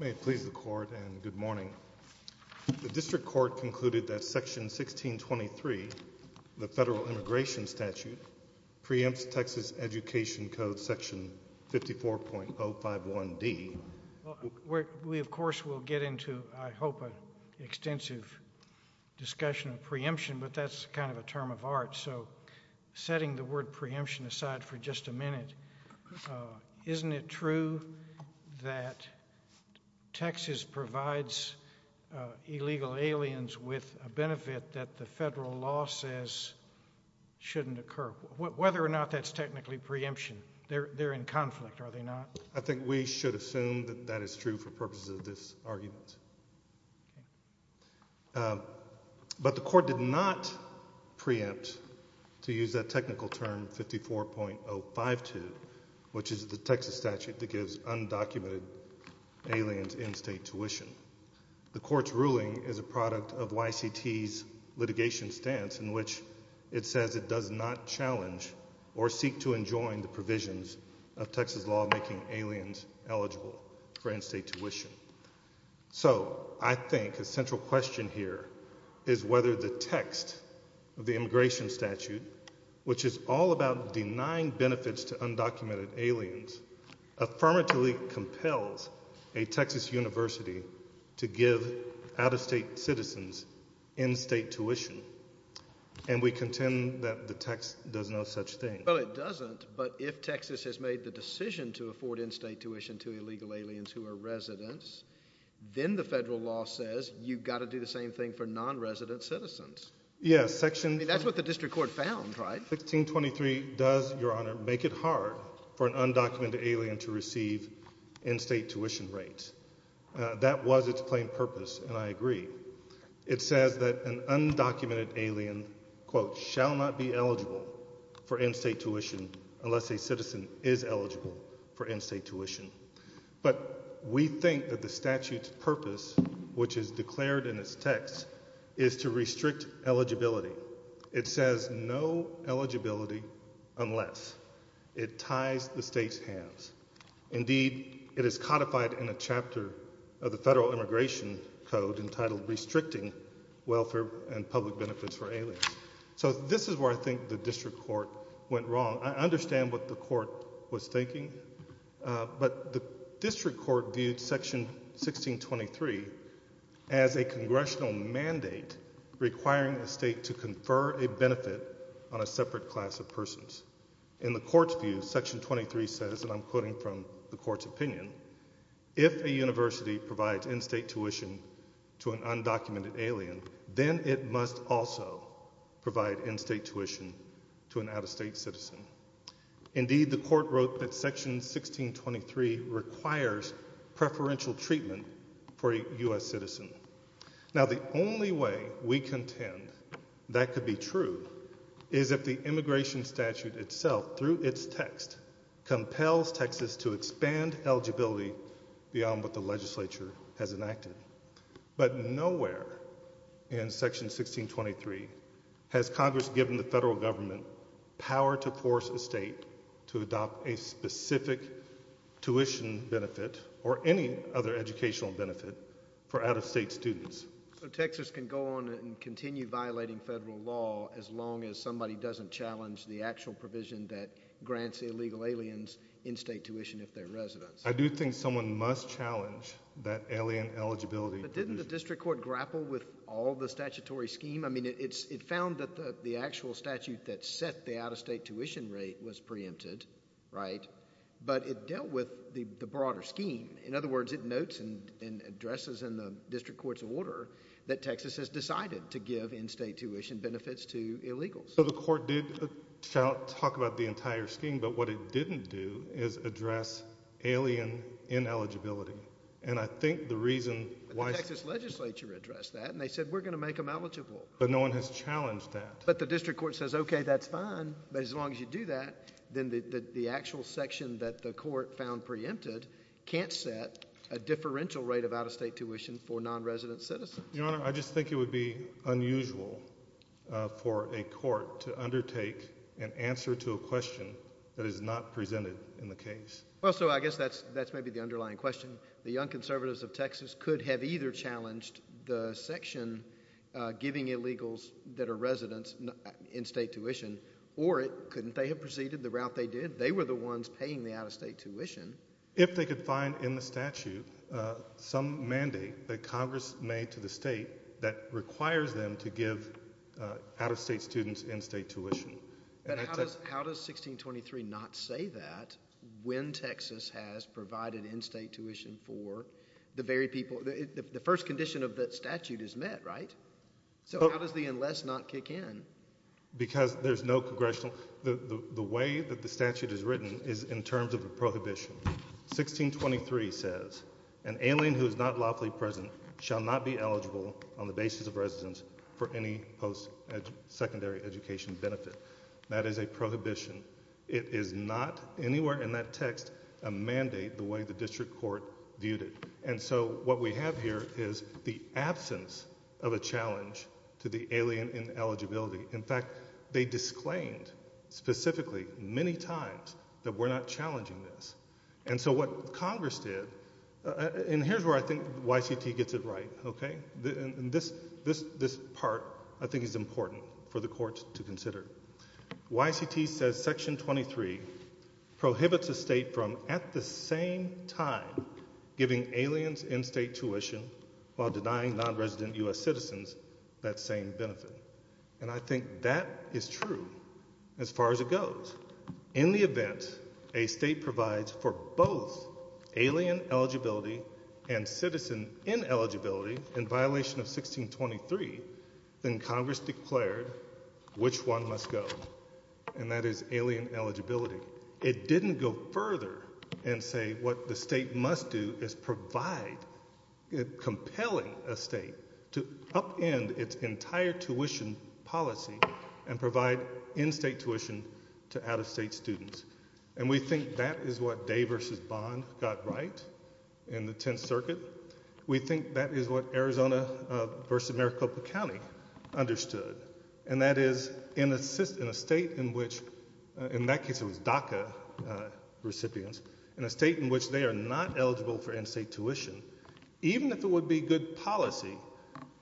May it please the Court, and good morning. The District Court concluded that Section 1623, the Federal Immigration Statute, preempts Texas Education Code Section 54.051D. We of course will get into, I hope, an extensive discussion of preemption, but that's kind of a term of art, so setting the word preemption aside for just a minute, isn't it true that Texas provides illegal aliens with a benefit that the federal law says shouldn't occur? Whether or not that's technically preemption, they're in conflict, are they not? I think we should assume that that is true for purposes of this argument. But the Court did not preempt, to use that technical term, 54.052, which is the Texas statute that gives undocumented aliens in-state tuition. The Court's ruling is a product of YCT's litigation stance in which it says it does not challenge or seek to enjoin the provisions of Texas law making aliens eligible for in-state tuition. So I think a central question here is whether the text of the immigration statute, which is all about denying benefits to undocumented aliens, affirmatively compels a Texas university to give out-of-state citizens in-state tuition, and we contend that the text does no such thing. Well, it doesn't, but if Texas has made the decision to afford in-state tuition to illegal aliens who are residents, then the federal law says you've got to do the same thing for non-resident citizens. Yeah, section— I mean, that's what the district court found, right? Section 1623 does, Your Honor, make it hard for an undocumented alien to receive in-state tuition rates. That was its plain purpose, and I agree. It says that an undocumented alien, quote, shall not be eligible for in-state tuition unless a citizen is eligible for in-state is to restrict eligibility. It says no eligibility unless. It ties the state's hands. Indeed, it is codified in a chapter of the federal immigration code entitled Restricting Welfare and Public Benefits for Aliens. So this is where I think the district court went wrong. I understand what the court was thinking, but the district court viewed section 1623 as a congressional mandate requiring the state to confer a benefit on a separate class of persons. In the court's view, section 23 says, and I'm quoting from the court's opinion, if a university provides in-state tuition to an undocumented alien, then it must also provide in-state tuition to an out-of-state citizen. Indeed, the court wrote that section 1623 requires preferential treatment for a U.S. citizen. Now, the only way we contend that could be true is if the immigration statute itself, through its text, compels Texas to expand eligibility beyond what the legislature has enacted. But nowhere in section 1623 has Congress given the tuition benefit or any other educational benefit for out-of-state students. So Texas can go on and continue violating federal law as long as somebody doesn't challenge the actual provision that grants illegal aliens in-state tuition if they're residents. I do think someone must challenge that alien eligibility. But didn't the district court grapple with all the statutory scheme? I mean, it found that the actual statute that set the out-of-state tuition rate was it dealt with the broader scheme. In other words, it notes and addresses in the district court's order that Texas has decided to give in-state tuition benefits to illegals. So the court did talk about the entire scheme, but what it didn't do is address alien ineligibility. And I think the reason why... The Texas legislature addressed that, and they said, we're going to make them eligible. But no one has challenged that. But the district court says, okay, that's fine. But as that the court found preempted can't set a differential rate of out-of-state tuition for non-resident citizens. Your Honor, I just think it would be unusual for a court to undertake an answer to a question that is not presented in the case. Well, so I guess that's maybe the underlying question. The Young Conservatives of Texas could have either challenged the section giving illegals that are residents in-state tuition, or couldn't they have proceeded the ones paying the out-of-state tuition? If they could find in the statute some mandate that Congress made to the state that requires them to give out-of-state students in-state tuition. But how does 1623 not say that when Texas has provided in-state tuition for the very people? The first condition of that statute is met, right? So how does the unless not kick in? Because there's no congressional, the way that the statute is written is in terms of a prohibition. 1623 says, an alien who is not lawfully present shall not be eligible on the basis of residence for any post-secondary education benefit. That is a prohibition. It is not anywhere in that text a mandate the way the district court viewed it. And so what we have here is the absence of a challenge to the alien ineligibility. In fact, they disclaimed specifically many times that we're not challenging this. And so what Congress did, and here's where I think YCT gets it right, okay? This part I think is important for the courts to consider. YCT says section 23 prohibits a state from at the same time giving aliens in-state tuition while denying non-resident U.S. citizens that same benefit. And I think that is true as far as it goes. In the event a state provides for both alien eligibility and citizen ineligibility in violation of 1623, then Congress declared which one must go, and that is alien eligibility. It didn't go further and say what the state must do is provide, compelling a state to upend its entire tuition policy and provide in-state tuition to out-of-state students. And we think that is what Day versus Bond got right in the Tenth Circuit. We think that is what Arizona versus Maricopa County understood, and that is in a state in which, in that case it was DACA recipients, in a state in which they are not eligible for in-state tuition, even if it would be good policy,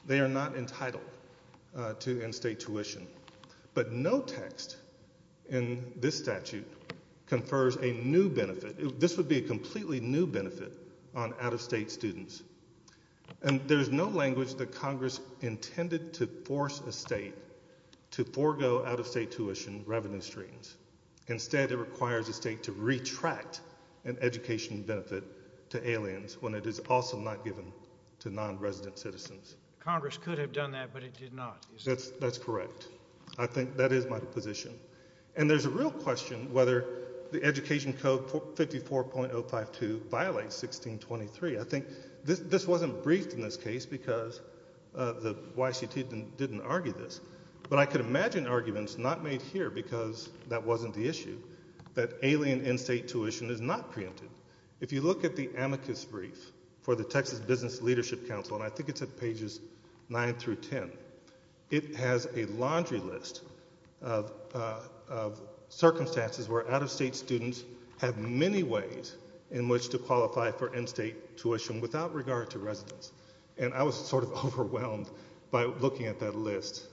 they are not entitled to in-state tuition. But no text in this statute confers a new benefit. This would be a completely new benefit on out-of-state students. And there's no language that Congress intended to force a state to forgo out-of-state tuition revenue streams. Instead, it requires a state to retract an education benefit to aliens when it is also not given to non-resident citizens. Congress could have done that, but it did not. That's correct. I think that is my position. And there's a real question whether the Education Code 54.052 violates 1623. I think this wasn't briefed in this case because the YCT didn't argue this. But I could imagine arguments not made here because that wasn't the issue, that alien in-state tuition is not preempted. If you look at the amicus brief for the Texas Business Leadership Council, and I think it's at pages 9 through 10, it has a laundry list of circumstances where out-of-state students have many ways in which to qualify for in-state tuition without regard to residence. And I was sort of overwhelmed by looking at that list.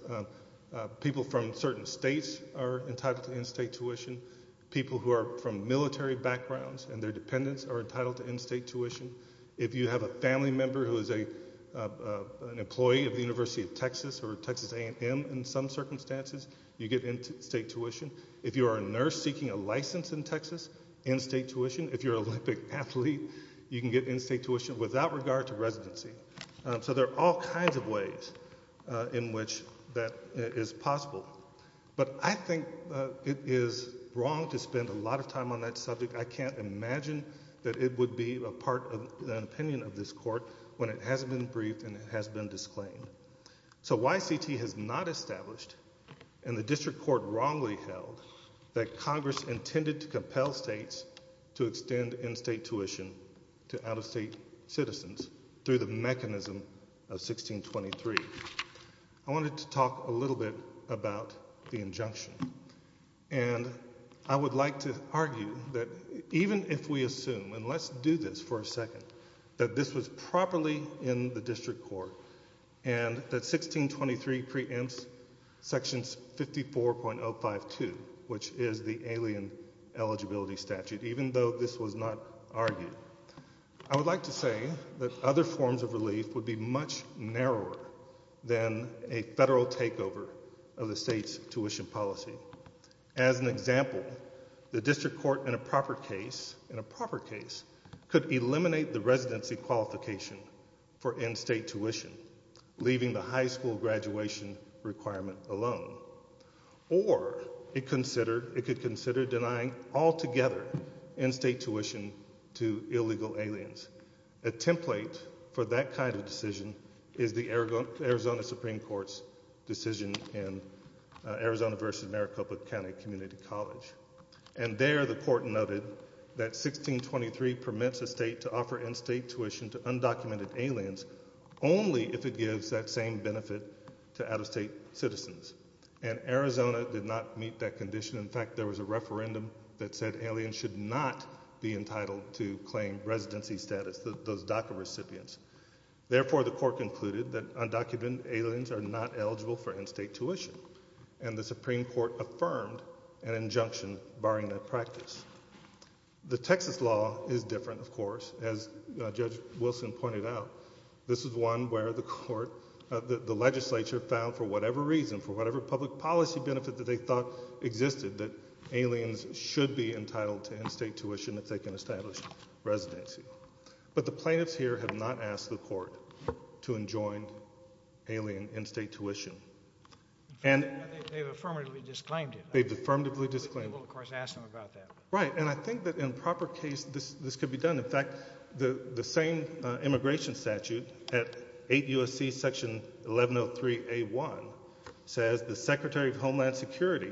People from certain states are entitled to in-state tuition. People who are from military backgrounds and their dependents are entitled to in-state tuition. If you have a family member who is an employee of the University of Texas or Texas A&M in some circumstances, you get in-state tuition. If you are a nurse seeking a license in Texas, in-state tuition. If you're an Olympic athlete, you can get in-state tuition without regard to residency. So there are all kinds of ways in which that is possible. But I think it is wrong to spend a lot of time on that subject. I can't imagine that it would be a part of an opinion of this and the district court wrongly held that Congress intended to compel states to extend in-state tuition to out-of-state citizens through the mechanism of 1623. I wanted to talk a little bit about the injunction. And I would like to argue that even if we assume, and let's do this for a section 54.052, which is the alien eligibility statute, even though this was not argued, I would like to say that other forms of relief would be much narrower than a federal takeover of the state's tuition policy. As an example, the district court in a proper case, in a proper case, could eliminate the residency qualification for in-state tuition, leaving the high school graduation requirement alone. Or it could consider denying altogether in-state tuition to illegal aliens. A template for that kind of decision is the Arizona Supreme Court's decision in Arizona v. Maricopa County Community College. And there the court noted that 1623 permits a to out-of-state citizens. And Arizona did not meet that condition. In fact, there was a referendum that said aliens should not be entitled to claim residency status, those DACA recipients. Therefore, the court concluded that undocumented aliens are not eligible for in-state tuition. And the Supreme Court affirmed an injunction barring that practice. The Texas law is different, as Judge Wilson pointed out. This is one where the legislature found, for whatever reason, for whatever public policy benefit that they thought existed, that aliens should be entitled to in-state tuition if they can establish residency. But the plaintiffs here have not asked the court to enjoin alien in-state tuition. They've affirmatively disclaimed it. They've affirmatively disclaimed it. We will, of course, ask them about that. Right. And I think that in a proper case, this could be done. In fact, the same immigration statute at 8 U.S.C. Section 1103A1 says the Secretary of Homeland Security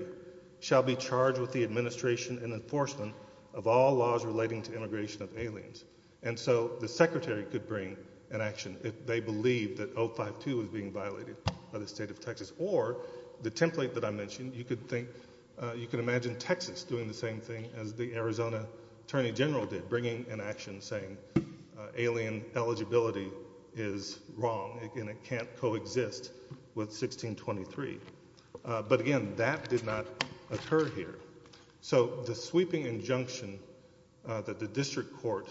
shall be charged with the administration and enforcement of all laws relating to immigration of aliens. And so the Secretary could bring an action if they believe that 052 is being violated by the state of Texas. Or the template that I mentioned, you could imagine Texas doing the same thing as the Arizona Attorney General did, bringing an action saying alien eligibility is wrong and it can't coexist with 1623. But again, that did not occur here. So the sweeping injunction that the district court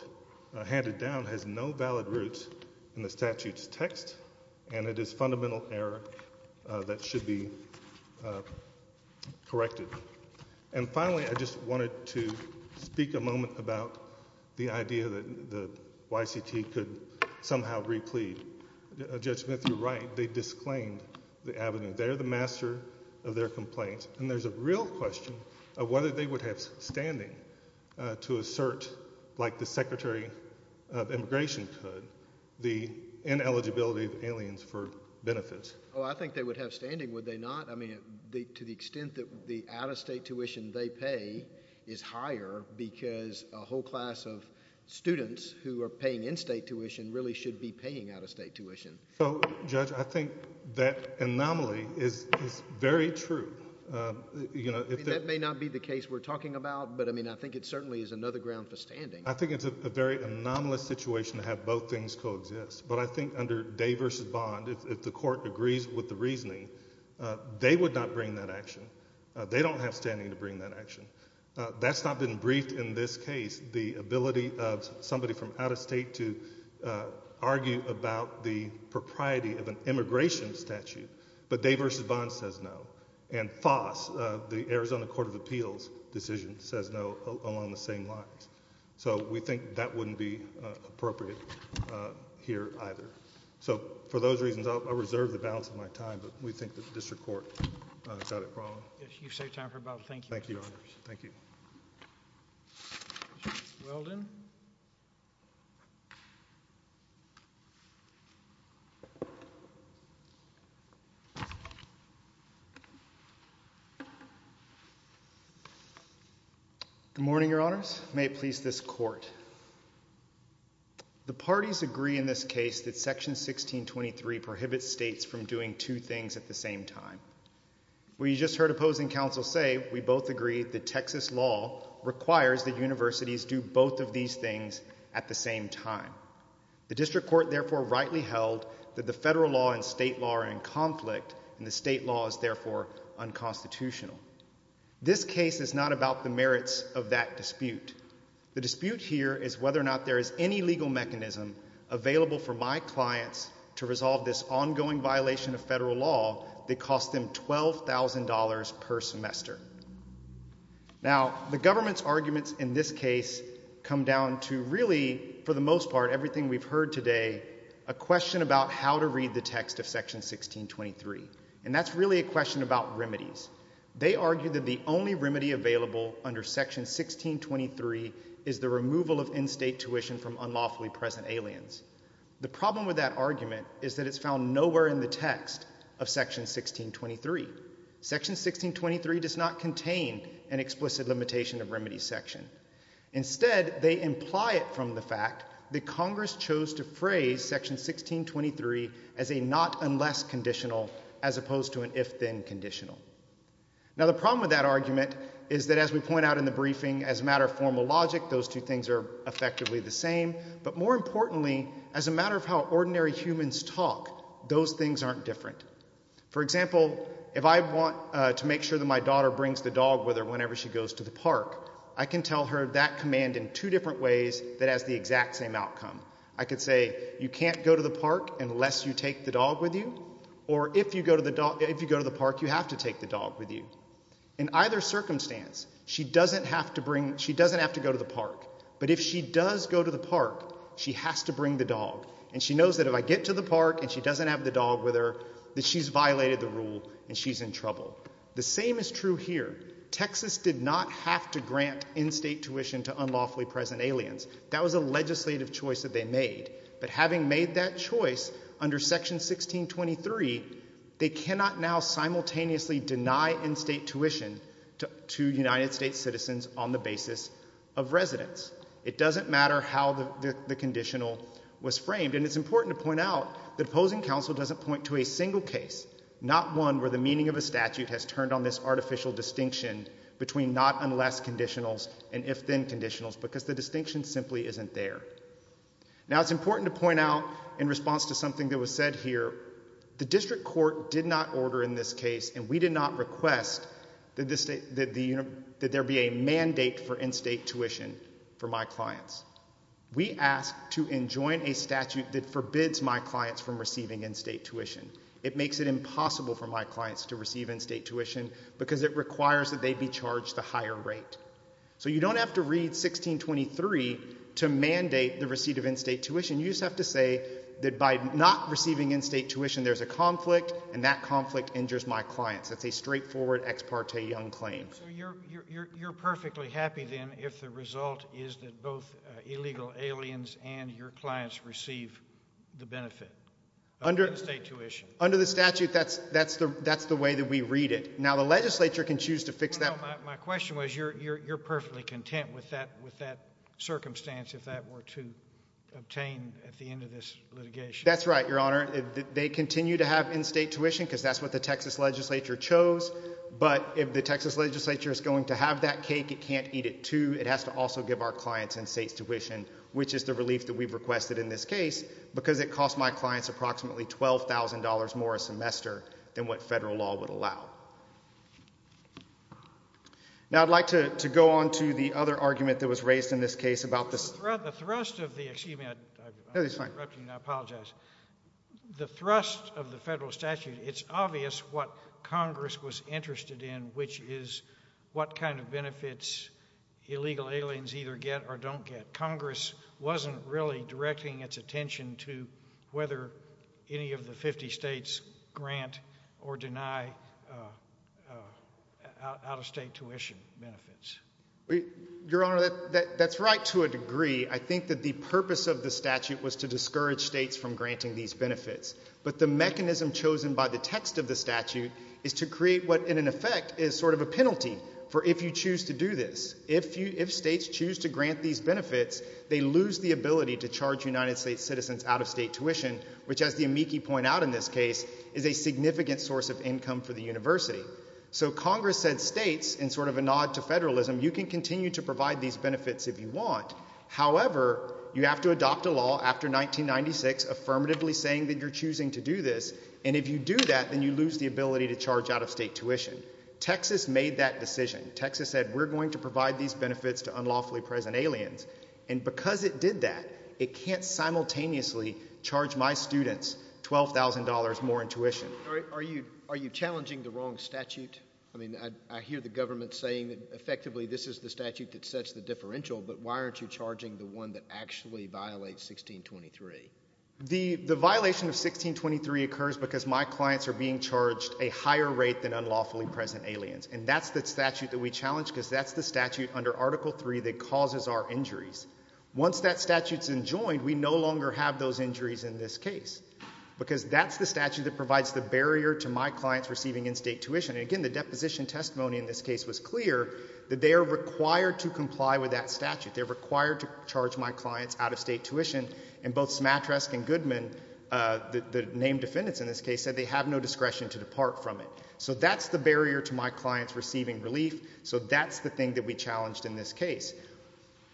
handed down has no valid roots in the statute's text, and it is fundamental error that should be corrected. And finally, I just wanted to speak a moment about the idea that the YCT could somehow replead. Judge Smith, you're right. They disclaimed the avenue. They're the master of their complaints. And there's a real question of whether they would have standing to assert, like the Secretary of Immigration could, the ineligibility of aliens for benefits. Oh, I think they would have standing, would they not? I mean, to the extent that the out-of-state tuition they pay is higher because a whole class of students who are paying in-state tuition really should be paying out-of-state tuition. So, Judge, I think that anomaly is very true. That may not be the case we're talking about, but I mean, I think it certainly is another ground for standing. I think it's a very anomalous situation to have both things coexist. But I think under Day v. Bond, if the court agrees with the reasoning, they would not bring that action. They don't have standing to bring that action. That's not been briefed in this case, the ability of somebody from out-of-state to argue about the propriety of an immigration statute. But Day v. Bond says no. And FOSS, the Arizona Court of Appeals decision, says no along the same lines. So we think that wouldn't be appropriate here either. So for those reasons, I'll reserve the balance of my time, but we think that the district court got it wrong. Yes, you've saved time for about a thank you. Thank you, Your Honors. Thank you. Judge Weldon? Good morning, Your Honors. May it please this court. The parties agree in this case that Section 1623 prohibits states from doing two things at the same time. We just heard opposing counsel say, we both agree, that Texas law requires that universities do both of these things at the same time. The district court therefore rightly held that the federal law and state law are in conflict, and the state law is therefore unconstitutional. This case is not about the merits of that dispute. The dispute here is whether or not there is any legal mechanism available for my clients to resolve this ongoing violation of federal law that costs them $12,000 per semester. Now, the government's arguments in this case come down to really, for the most part, everything we've heard today, a question about how to read the text of Section 1623. And that's really a question about remedies. They argue that the only remedy available under Section 1623 is the removal of in-state tuition from unlawfully present aliens. The problem with that argument is that it's found nowhere in the text of Section 1623. Section 1623 does not contain an explicit limitation of remedy section. Instead, they imply it from the fact that Congress chose to phrase Section 1623 as a not unless conditional as opposed to an if-then conditional. Now, the problem with that argument is that, as we point out in the briefing, as a matter of how ordinary humans talk, those things aren't different. For example, if I want to make sure that my daughter brings the dog with her whenever she goes to the park, I can tell her that command in two different ways that has the exact same outcome. I could say, you can't go to the park unless you take the dog with you, or if you go to the park, you have to take the dog with you. In either circumstance, she doesn't have to go to the park. But if she does go to the park, she has to bring the dog. And she knows that if I get to the park and she doesn't have the dog with her, that she's violated the rule and she's in trouble. The same is true here. Texas did not have to grant in-state tuition to unlawfully present aliens. That was a legislative choice that they made. But having made that choice under Section 1623, they cannot now simultaneously deny in-state tuition to United States citizens on the basis of residence. It doesn't matter how the conditional was framed. And it's important to point out that opposing counsel doesn't point to a single case, not one where the meaning of a statute has turned on this artificial distinction between not unless conditionals and if-then conditionals, because the distinction simply isn't there. Now, it's important to point out in response to something that was said here, the district court did not order in this case, and we did not request that there be a mandate for in-state tuition for my clients. We asked to enjoin a statute that forbids my clients from receiving in-state tuition. It makes it impossible for my clients to receive in-state tuition because it requires that they be charged a higher rate. So you don't have to read 1623 to mandate the receipt of in-state tuition. You just have to say that by not receiving in-state tuition, there's a conflict, and that conflict injures my clients. That's a straightforward ex parte young claim. So you're perfectly happy then if the result is that both illegal aliens and your clients receive the benefit of in-state tuition? Under the statute, that's the way that we read it. Now, the legislature can choose to fix that. My question was, you're perfectly content with that circumstance if that were to obtain at the end of this litigation? That's right, Your Honor. They continue to have in-state tuition because that's what the Texas legislature chose, but if the Texas legislature is going to have that cake, it can't eat it, too. It has to also give our clients in-state tuition, which is the relief that we've requested in this case because it cost my clients approximately $12,000 more a semester than what federal law would allow. Now, I'd like to go on to the other argument that was raised in this case about the thrust of the federal statute. It's obvious what Congress was interested in, which is what kind of benefits illegal aliens either get or don't get. Congress wasn't really directing its attention to whether any of the 50 states grant or deny out-of-state tuition benefits. Your Honor, that's right to a degree. I think that the purpose of the statute was to discourage states from granting these benefits, but the mechanism chosen by the text of the statute is to create what, in effect, is sort of a penalty for if you choose to do this. If states choose to grant these benefits, they lose the ability to charge United States citizens out-of-state tuition, which, as the amici point out in this case, is a significant source of income for the university. So Congress said states, in sort of a nod to federalism, you can continue to provide these benefits if you want. However, you have to adopt a law after 1996 affirmatively saying that you're choosing to do this, and if you do that, then you lose the ability to charge out-of-state tuition. Texas made that decision. Texas said we're going to provide these benefits to unlawfully present aliens, and because it did that, it can't simultaneously charge my students $12,000 more in tuition. Are you challenging the wrong statute? I mean, I hear the government saying that, effectively, this is the statute that sets the differential, but why aren't you charging the one that actually violates 1623? The violation of 1623 occurs because my clients are being charged a higher rate than unlawfully present aliens, and that's the statute that we challenge because that's the statute under Article III that causes our injuries. Once that statute's enjoined, we no longer have those injuries in this case because that's the statute that provides the barrier to my clients receiving in-state tuition. And again, the deposition testimony in this case was clear that they are required to comply with that statute. They're required to charge my clients out-of-state tuition, and both Smatresk and Goodman, the named defendants in this case, said they have no discretion to depart from it. So that's the barrier to my clients receiving relief, so that's the thing that we challenged in this case.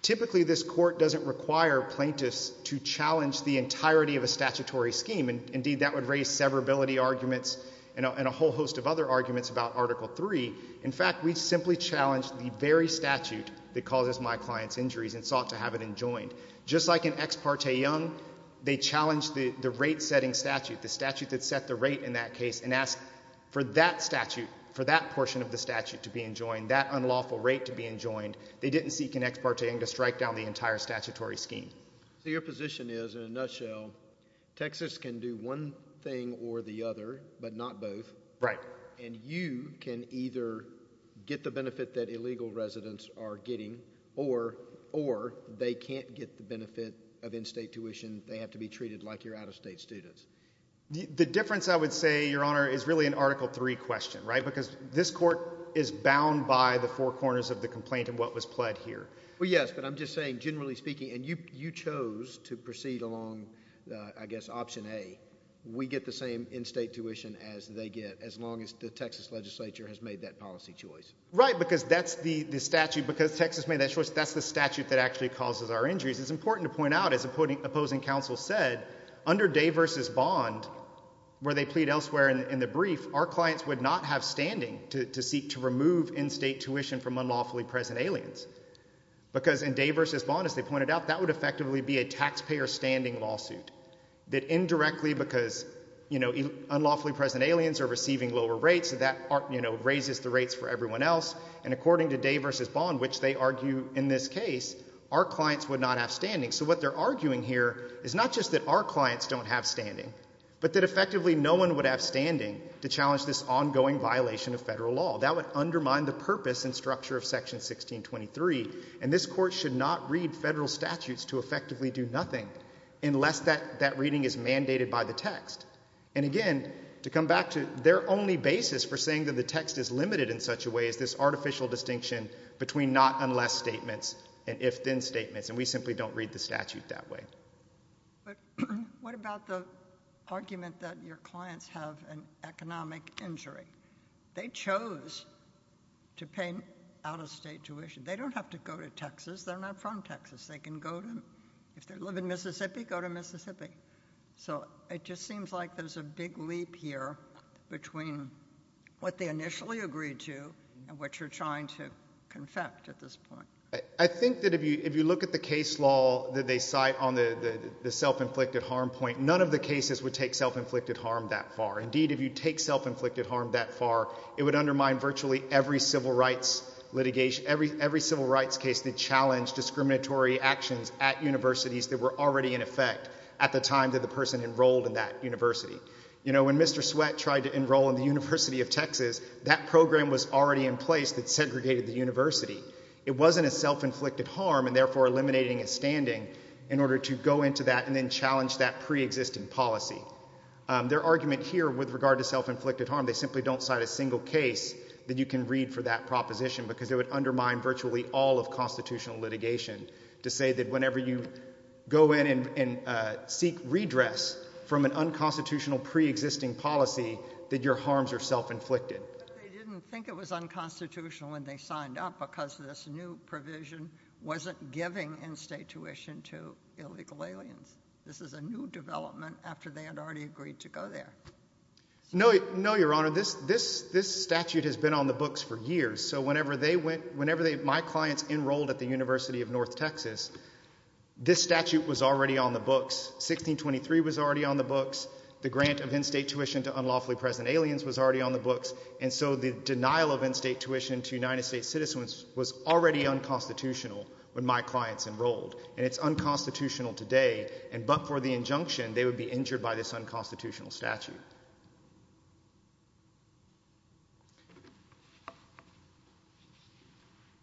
Typically, this court doesn't require plaintiffs to challenge the entirety of a statutory scheme. Indeed, that would raise severability arguments and a whole host of other arguments about Article III. In fact, we simply challenged the very statute that causes my clients injuries and sought to have it enjoined. Just like in Ex parte Young, they challenged the rate-setting statute, the statute that set the rate in that case, and asked for that statute, for that portion of the statute to be enjoined, that unlawful rate to be enjoined. They didn't seek in Ex parte Young to strike down the entire scheme. So your position is, in a nutshell, Texas can do one thing or the other, but not both. Right. And you can either get the benefit that illegal residents are getting, or they can't get the benefit of in-state tuition. They have to be treated like you're out-of-state students. The difference, I would say, Your Honor, is really an Article III question, right? Because this court is bound by the four corners of the complaint and what was pled here. Well, yes, but I'm just saying, generally speaking, and you chose to proceed along, I guess, option A, we get the same in-state tuition as they get, as long as the Texas legislature has made that policy choice. Right, because that's the statute. Because Texas made that choice, that's the statute that actually causes our injuries. It's important to point out, as opposing counsel said, under Day v. Bond, where they plead elsewhere in the brief, our clients would not have standing to seek to remove in-state tuition from unlawfully present aliens. Because in Day v. Bond, as they pointed out, that would effectively be a taxpayer-standing lawsuit. That indirectly, because unlawfully present aliens are receiving lower rates, that raises the rates for everyone else. And according to Day v. Bond, which they argue in this case, our clients would not have standing. So what they're arguing here is not just that our clients don't have standing, but that effectively no one would have standing to challenge this ongoing violation of federal law. That would undermine the purpose and structure of Section 1623, and this Court should not read federal statutes to effectively do nothing unless that reading is mandated by the text. And again, to come back to their only basis for saying that the text is limited in such a way is this artificial distinction between not unless statements and if-then statements, and we simply don't read the statute that way. But what about the argument that your clients have an economic injury? They chose to pay out-of-state tuition. They don't have to go to Texas. They're not from Texas. They can go to if they live in Mississippi, go to Mississippi. So it just seems like there's a big leap here between what they initially agreed to and what you're trying to confect at this point. I think that if you look at the case law that they cite on the self-inflicted harm point, none of the cases would take self-inflicted harm that far. Indeed, if you take self-inflicted harm that far, it would undermine virtually every civil rights litigation, every civil rights case that challenged discriminatory actions at universities that were already in effect at the time that the person enrolled in that university. You know, when Mr. Sweatt tried to enroll in the University of Texas, that program was already in place that segregated the university. It wasn't a self-inflicted harm and therefore eliminating a standing in order to go into that and then challenge that pre-existing policy. Their argument here with regard to self-inflicted harm, simply don't cite a single case that you can read for that proposition because it would undermine virtually all of constitutional litigation to say that whenever you go in and seek redress from an unconstitutional pre-existing policy that your harms are self-inflicted. But they didn't think it was unconstitutional when they signed up because this new provision wasn't giving in-state tuition to illegal aliens. This is a new development after they had already agreed to go there. No, Your Honor. This statute has been on the books for years. So whenever my clients enrolled at the University of North Texas, this statute was already on the books. 1623 was already on the books. The grant of in-state tuition to unlawfully present aliens was already on the books. And so the denial of in-state tuition to United States citizens was already unconstitutional when my clients enrolled. And it's unconstitutional today. And but for the injunction, they would be injured by this unconstitutional statute.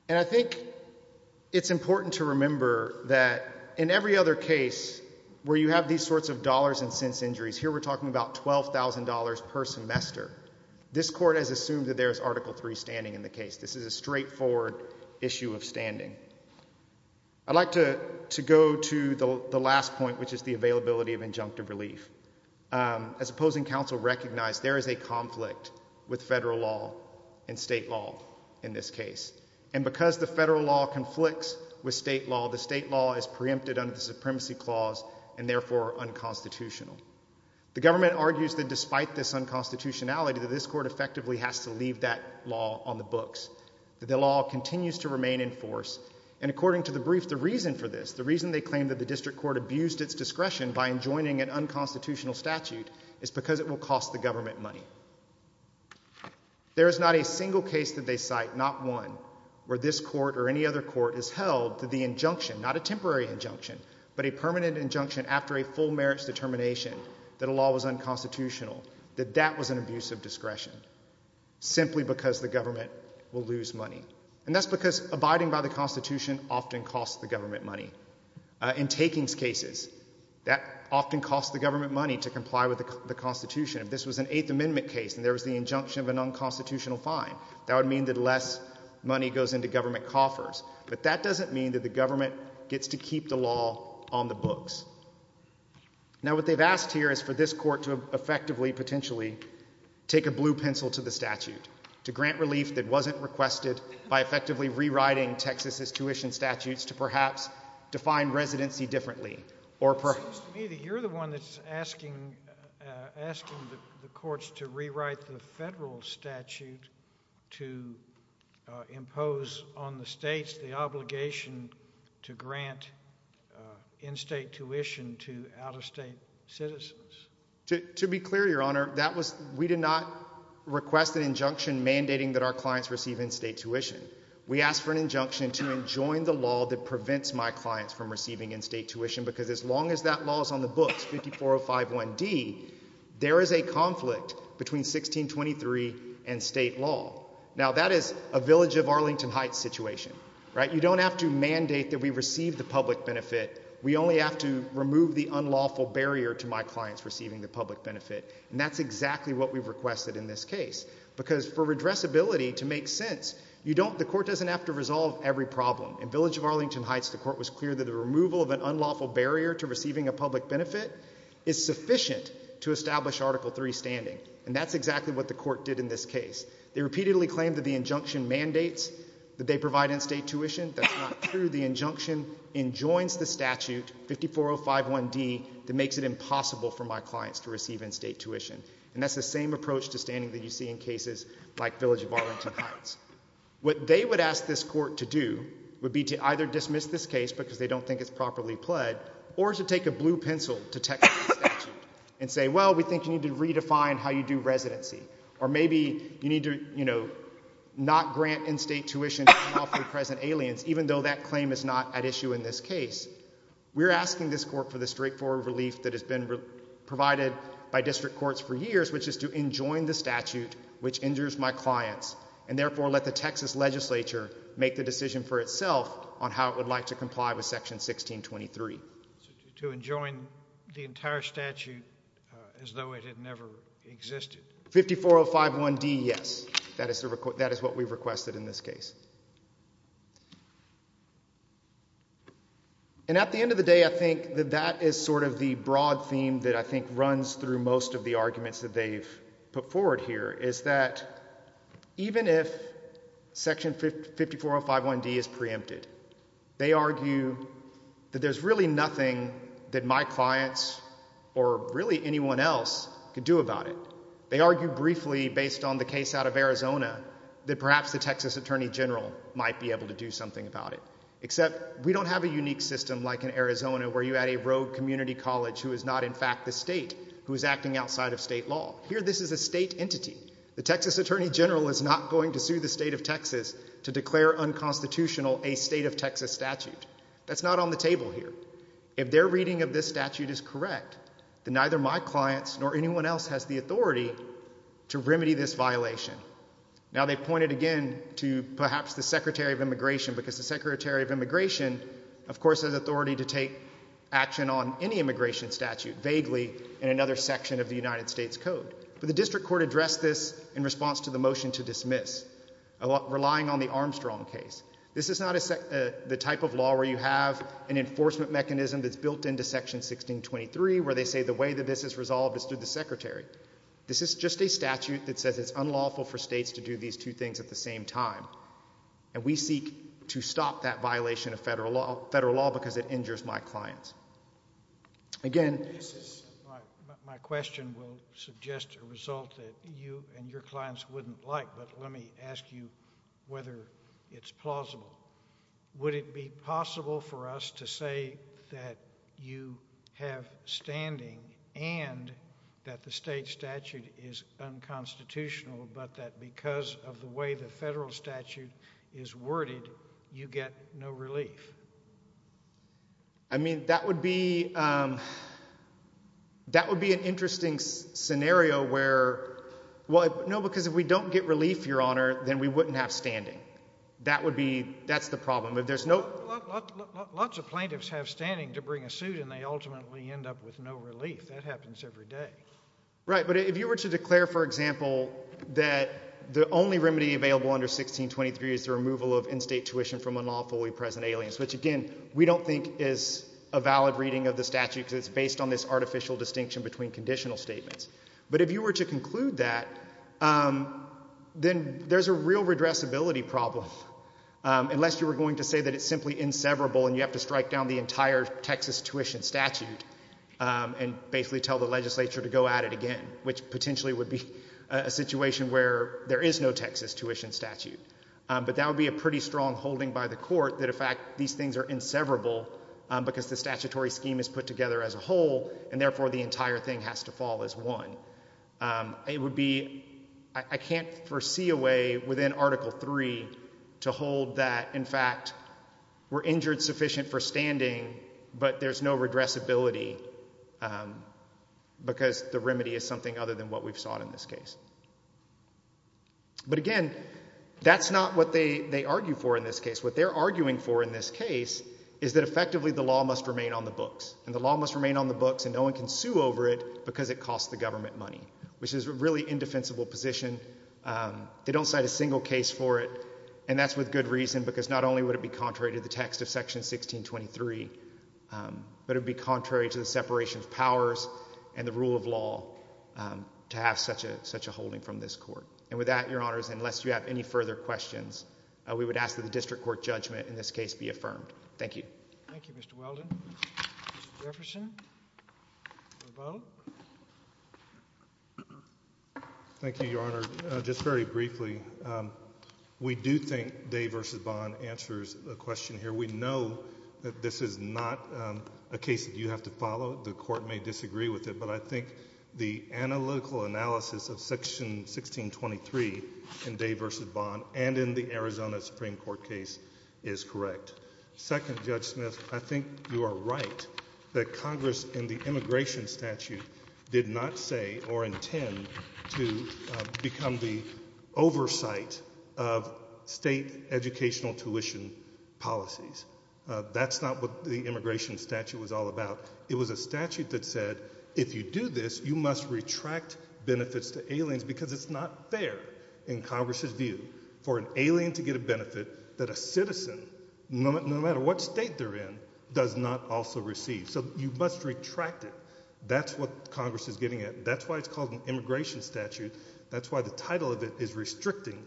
And I think it's important to remember that in every other case where you have these sorts of dollars and cents injuries, here we're talking about $12,000 per semester. This court has assumed that there's Article III standing in the case. This is a straightforward issue of standing. I'd like to go to the last point, which is the availability of injunctive relief. As opposing counsel recognized, there is a conflict with federal law and state law in this case. And because the federal law conflicts with state law, the state law is preempted under the Supremacy Clause and therefore unconstitutional. The government argues that despite this unconstitutionality, that this court effectively has to leave that law on the books. The law continues to remain in force. And according to the brief, the reason for this, the reason they claim that the district court abused its discretion by enjoining an unconstitutional statute is because it will cost the government money. There is not a single case that they cite, not one, where this court or any other court is held to the injunction, not a temporary injunction, but a permanent injunction after a full merits determination that a law was unconstitutional, that that was an abuse of discretion simply because the government will lose money. And that's because abiding by the Constitution often costs the government money. In takings cases, that often costs the government money to comply with the Constitution. If this was an Eighth Amendment case and there was the injunction of an unconstitutional fine, that would mean that less money goes into government coffers. But that doesn't mean that the government gets to keep the law on the books. Now what they've asked here is this court to effectively potentially take a blue pencil to the statute to grant relief that wasn't requested by effectively rewriting Texas's tuition statutes to perhaps define residency differently. It seems to me that you're the one that's asking the courts to rewrite the federal statute to impose on the states the obligation to grant in-state tuition to out-of-state citizens. To be clear, Your Honor, we did not request an injunction mandating that our clients receive in-state tuition. We asked for an injunction to enjoin the law that prevents my clients from receiving in-state tuition, because as long as that law is on the books, 54051d, there is a conflict between 1623 and state law. Now that is a Village of Arlington Heights situation, right? You don't have to mandate that we receive the public benefit. We only have to mandate that we remove an unlawful barrier to my clients receiving the public benefit. And that's exactly what we've requested in this case, because for redressability to make sense, you don't, the court doesn't have to resolve every problem. In Village of Arlington Heights, the court was clear that the removal of an unlawful barrier to receiving a public benefit is sufficient to establish Article III standing, and that's exactly what the court did in this case. They repeatedly claimed that the injunction mandates that they provide in-state tuition. That's not true. The injunction enjoins the statute, 54051d, that makes it impossible for my clients to receive in-state tuition. And that's the same approach to standing that you see in cases like Village of Arlington Heights. What they would ask this court to do would be to either dismiss this case because they don't think it's properly pled, or to take a blue pencil to text the statute and say, well, we think you need to redefine how you do residency. Or maybe you need to, you know, not grant in-state tuition to lawfully present aliens, even though that claim is not at issue in this case. We're asking this court for the straightforward relief that has been provided by district courts for years, which is to enjoin the statute, which injures my clients, and therefore let the Texas legislature make the decision for itself on how it would like to comply with Section 1623. To enjoin the entire statute as though it had never existed? 54051d, yes. That is what we've requested in this case. And at the end of the day, I think that that is sort of the broad theme that I think runs through most of the arguments that they've put forward here, is that even if Section 54051d is preempted, they argue that there's really nothing that my that perhaps the Texas Attorney General might be able to do something about it. Except we don't have a unique system like in Arizona, where you had a rogue community college who is not, in fact, the state who is acting outside of state law. Here, this is a state entity. The Texas Attorney General is not going to sue the state of Texas to declare unconstitutional a state of Texas statute. That's not on the table here. If their reading of this statute is correct, then neither my clients nor anyone else has the authority to remedy this violation. Now, they pointed again to perhaps the Secretary of Immigration, because the Secretary of Immigration, of course, has authority to take action on any immigration statute vaguely in another section of the United States Code. But the district court addressed this in response to the motion to dismiss, relying on the Armstrong case. This is not the type of law where you have an enforcement mechanism that's built into Section 1623, where they say the way that this is resolved is through the Secretary. This is just a statute that says it's unlawful for states to do these two things at the same time. And we seek to stop that violation of federal law because it injures my clients. Again, my question will suggest a result that you and your clients wouldn't like, but let me ask you whether it's plausible. Would it be possible for us to say that you have standing and that the state statute is unconstitutional, but that because of the way the federal statute is worded, you get no relief? I mean, that would be, um, that would be an interesting scenario where, well, no, because if we don't get relief, Your Honor, then we wouldn't have standing. That would be, that's the problem. If there's no... Lots of plaintiffs have standing to bring a suit and they ultimately end up with no relief. That happens every day. Right, but if you were to declare, for example, that the only remedy available under 1623 is the removal of in-state tuition from unlawfully present aliens, which, again, we don't think is a valid reading of the statute because it's based on this artificial distinction between conditional statements, but if you were to conclude that, then there's a real redressability problem, unless you were going to say that it's simply inseverable and you have to strike down the entire Texas tuition statute and basically tell the legislature to go at it again, which potentially would be a situation where there is no Texas tuition statute, but that would be a pretty strong holding by the court that, in fact, these things are inseverable because the statutory scheme is put together as a whole and therefore the entire thing has to fall as one. It would be, I can't foresee a way within Article 3 to hold that, in fact, we're injured sufficient for standing, but there's no redressability because the remedy is something other than what we've sought in this case. But again, that's not what they argue for in this case. What they're arguing for in this case is that effectively the law must remain on the books and the law must remain on the books and no one can sue over it because it costs the government money, which is a really indefensible position. They don't cite a single case for it and that's with good reason because not only would it be contrary to the text of Section 1623, but it would be contrary to the separation of powers and the rule of law to have such a holding from this court. And with that, Your Honors, unless you have any further questions, we would ask that the District Court judgment in this case be affirmed. Thank you. Thank you, Mr. Weldon. Mr. Jefferson. Thank you, Your Honor. Just very briefly, we do think Day v. Bond answers the question here. We know that this is not a case that you have to follow. The Court may disagree with it, but I think the analytical analysis of Section 1623 in Day v. Bond and in the Arizona Supreme Court case is correct. Second, Judge Smith, I think you are right that Congress in the immigration statute did not say or intend to become the oversight of state educational tuition policies. That's not the immigration statute was all about. It was a statute that said if you do this, you must retract benefits to aliens because it's not fair in Congress's view for an alien to get a benefit that a citizen, no matter what state they're in, does not also receive. So you must retract it. That's what Congress is getting at. That's why it's called an immigration statute. That's why the title of it is restricting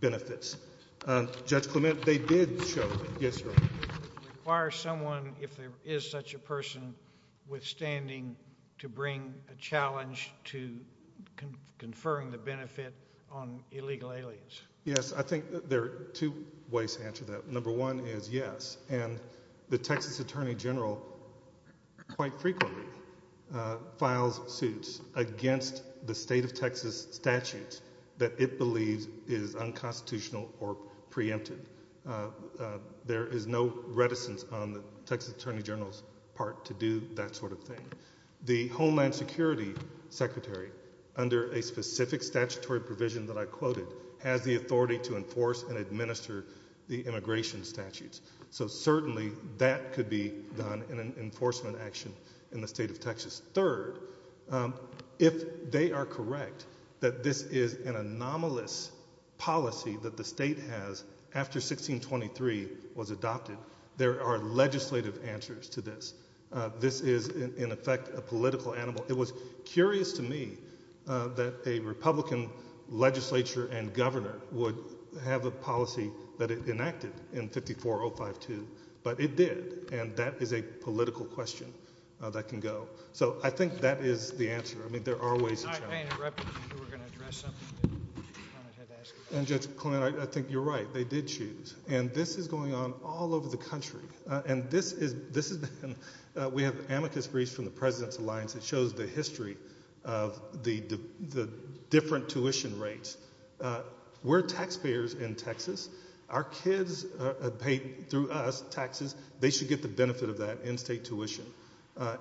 benefits. Judge Clement, they did show. Yes, Your Honor. Requires someone, if there is such a person, withstanding to bring a challenge to conferring the benefit on illegal aliens. Yes, I think there are two ways to answer that. Number one is yes, and the Texas Attorney General quite frequently files suits against the state of Texas statutes that it believes is unconstitutional or preempted. There is no reticence on the Texas Attorney General's part to do that sort of thing. The Homeland Security Secretary, under a specific statutory provision that I quoted, has the authority to enforce and administer the immigration statutes. So certainly that could be done in an enforcement action in the state of Texas. Third, if they are correct that this is an anomalous policy that the state has after 1623 was adopted, there are legislative answers to this. This is, in effect, a political animal. It was curious to me that a Republican legislature and governor would have a policy that it enacted in 54052, but it did, and that is a political question that can go. So I think that is the answer. I mean, there are ways. I think you're right. They did choose, and this is going on all over the country. We have amicus briefs from the President's Alliance that shows the history of the different tuition rates. We're taxpayers in Texas. Our kids pay, through us, taxes. They should get the benefit of that in-state tuition,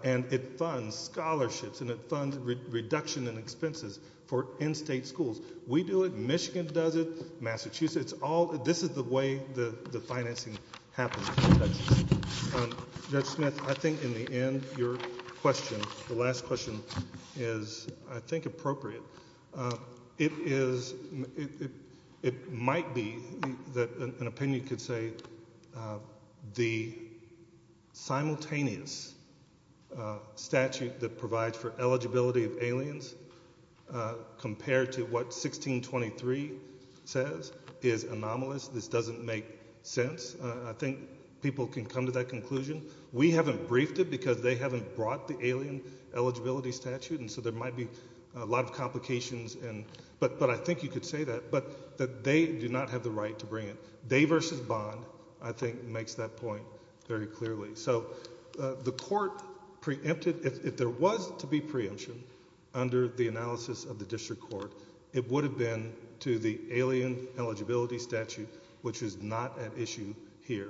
and it funds scholarships, and it funds reduction in expenses for in-state schools. We do it. Michigan does it. Massachusetts. This is the way the financing happens in Texas. Judge Smith, I think in the end your question, the last question, is I think appropriate. It might be that an opinion could say the simultaneous statute that provides for eligibility of aliens compared to what 1623 says is anomalous. This doesn't make sense. I think people can come to that conclusion. We haven't briefed it because they haven't brought the alien eligibility statute, and so there might be a lot of complications, but I think you could say that they do not have the right to bring it. They versus Bond, I think, makes that point very clearly. If there was to be preemption under the analysis of the District Court, it would have been to the alien eligibility statute, which is not at issue here.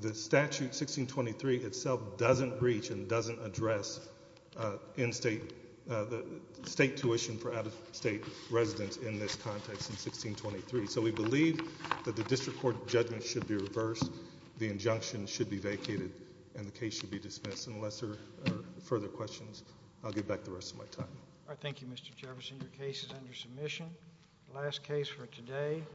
The statute 1623 itself doesn't reach and doesn't address in-state tuition for out-of-state residents in this context in 1623, so we believe that the District Court judgment should be reversed. The injunction should be vacated, and the case should be dismissed. Unless there are further questions, I'll give back the rest of my time. All right. Thank you, Mr. Jefferson. Your case is under submission. Last case for today.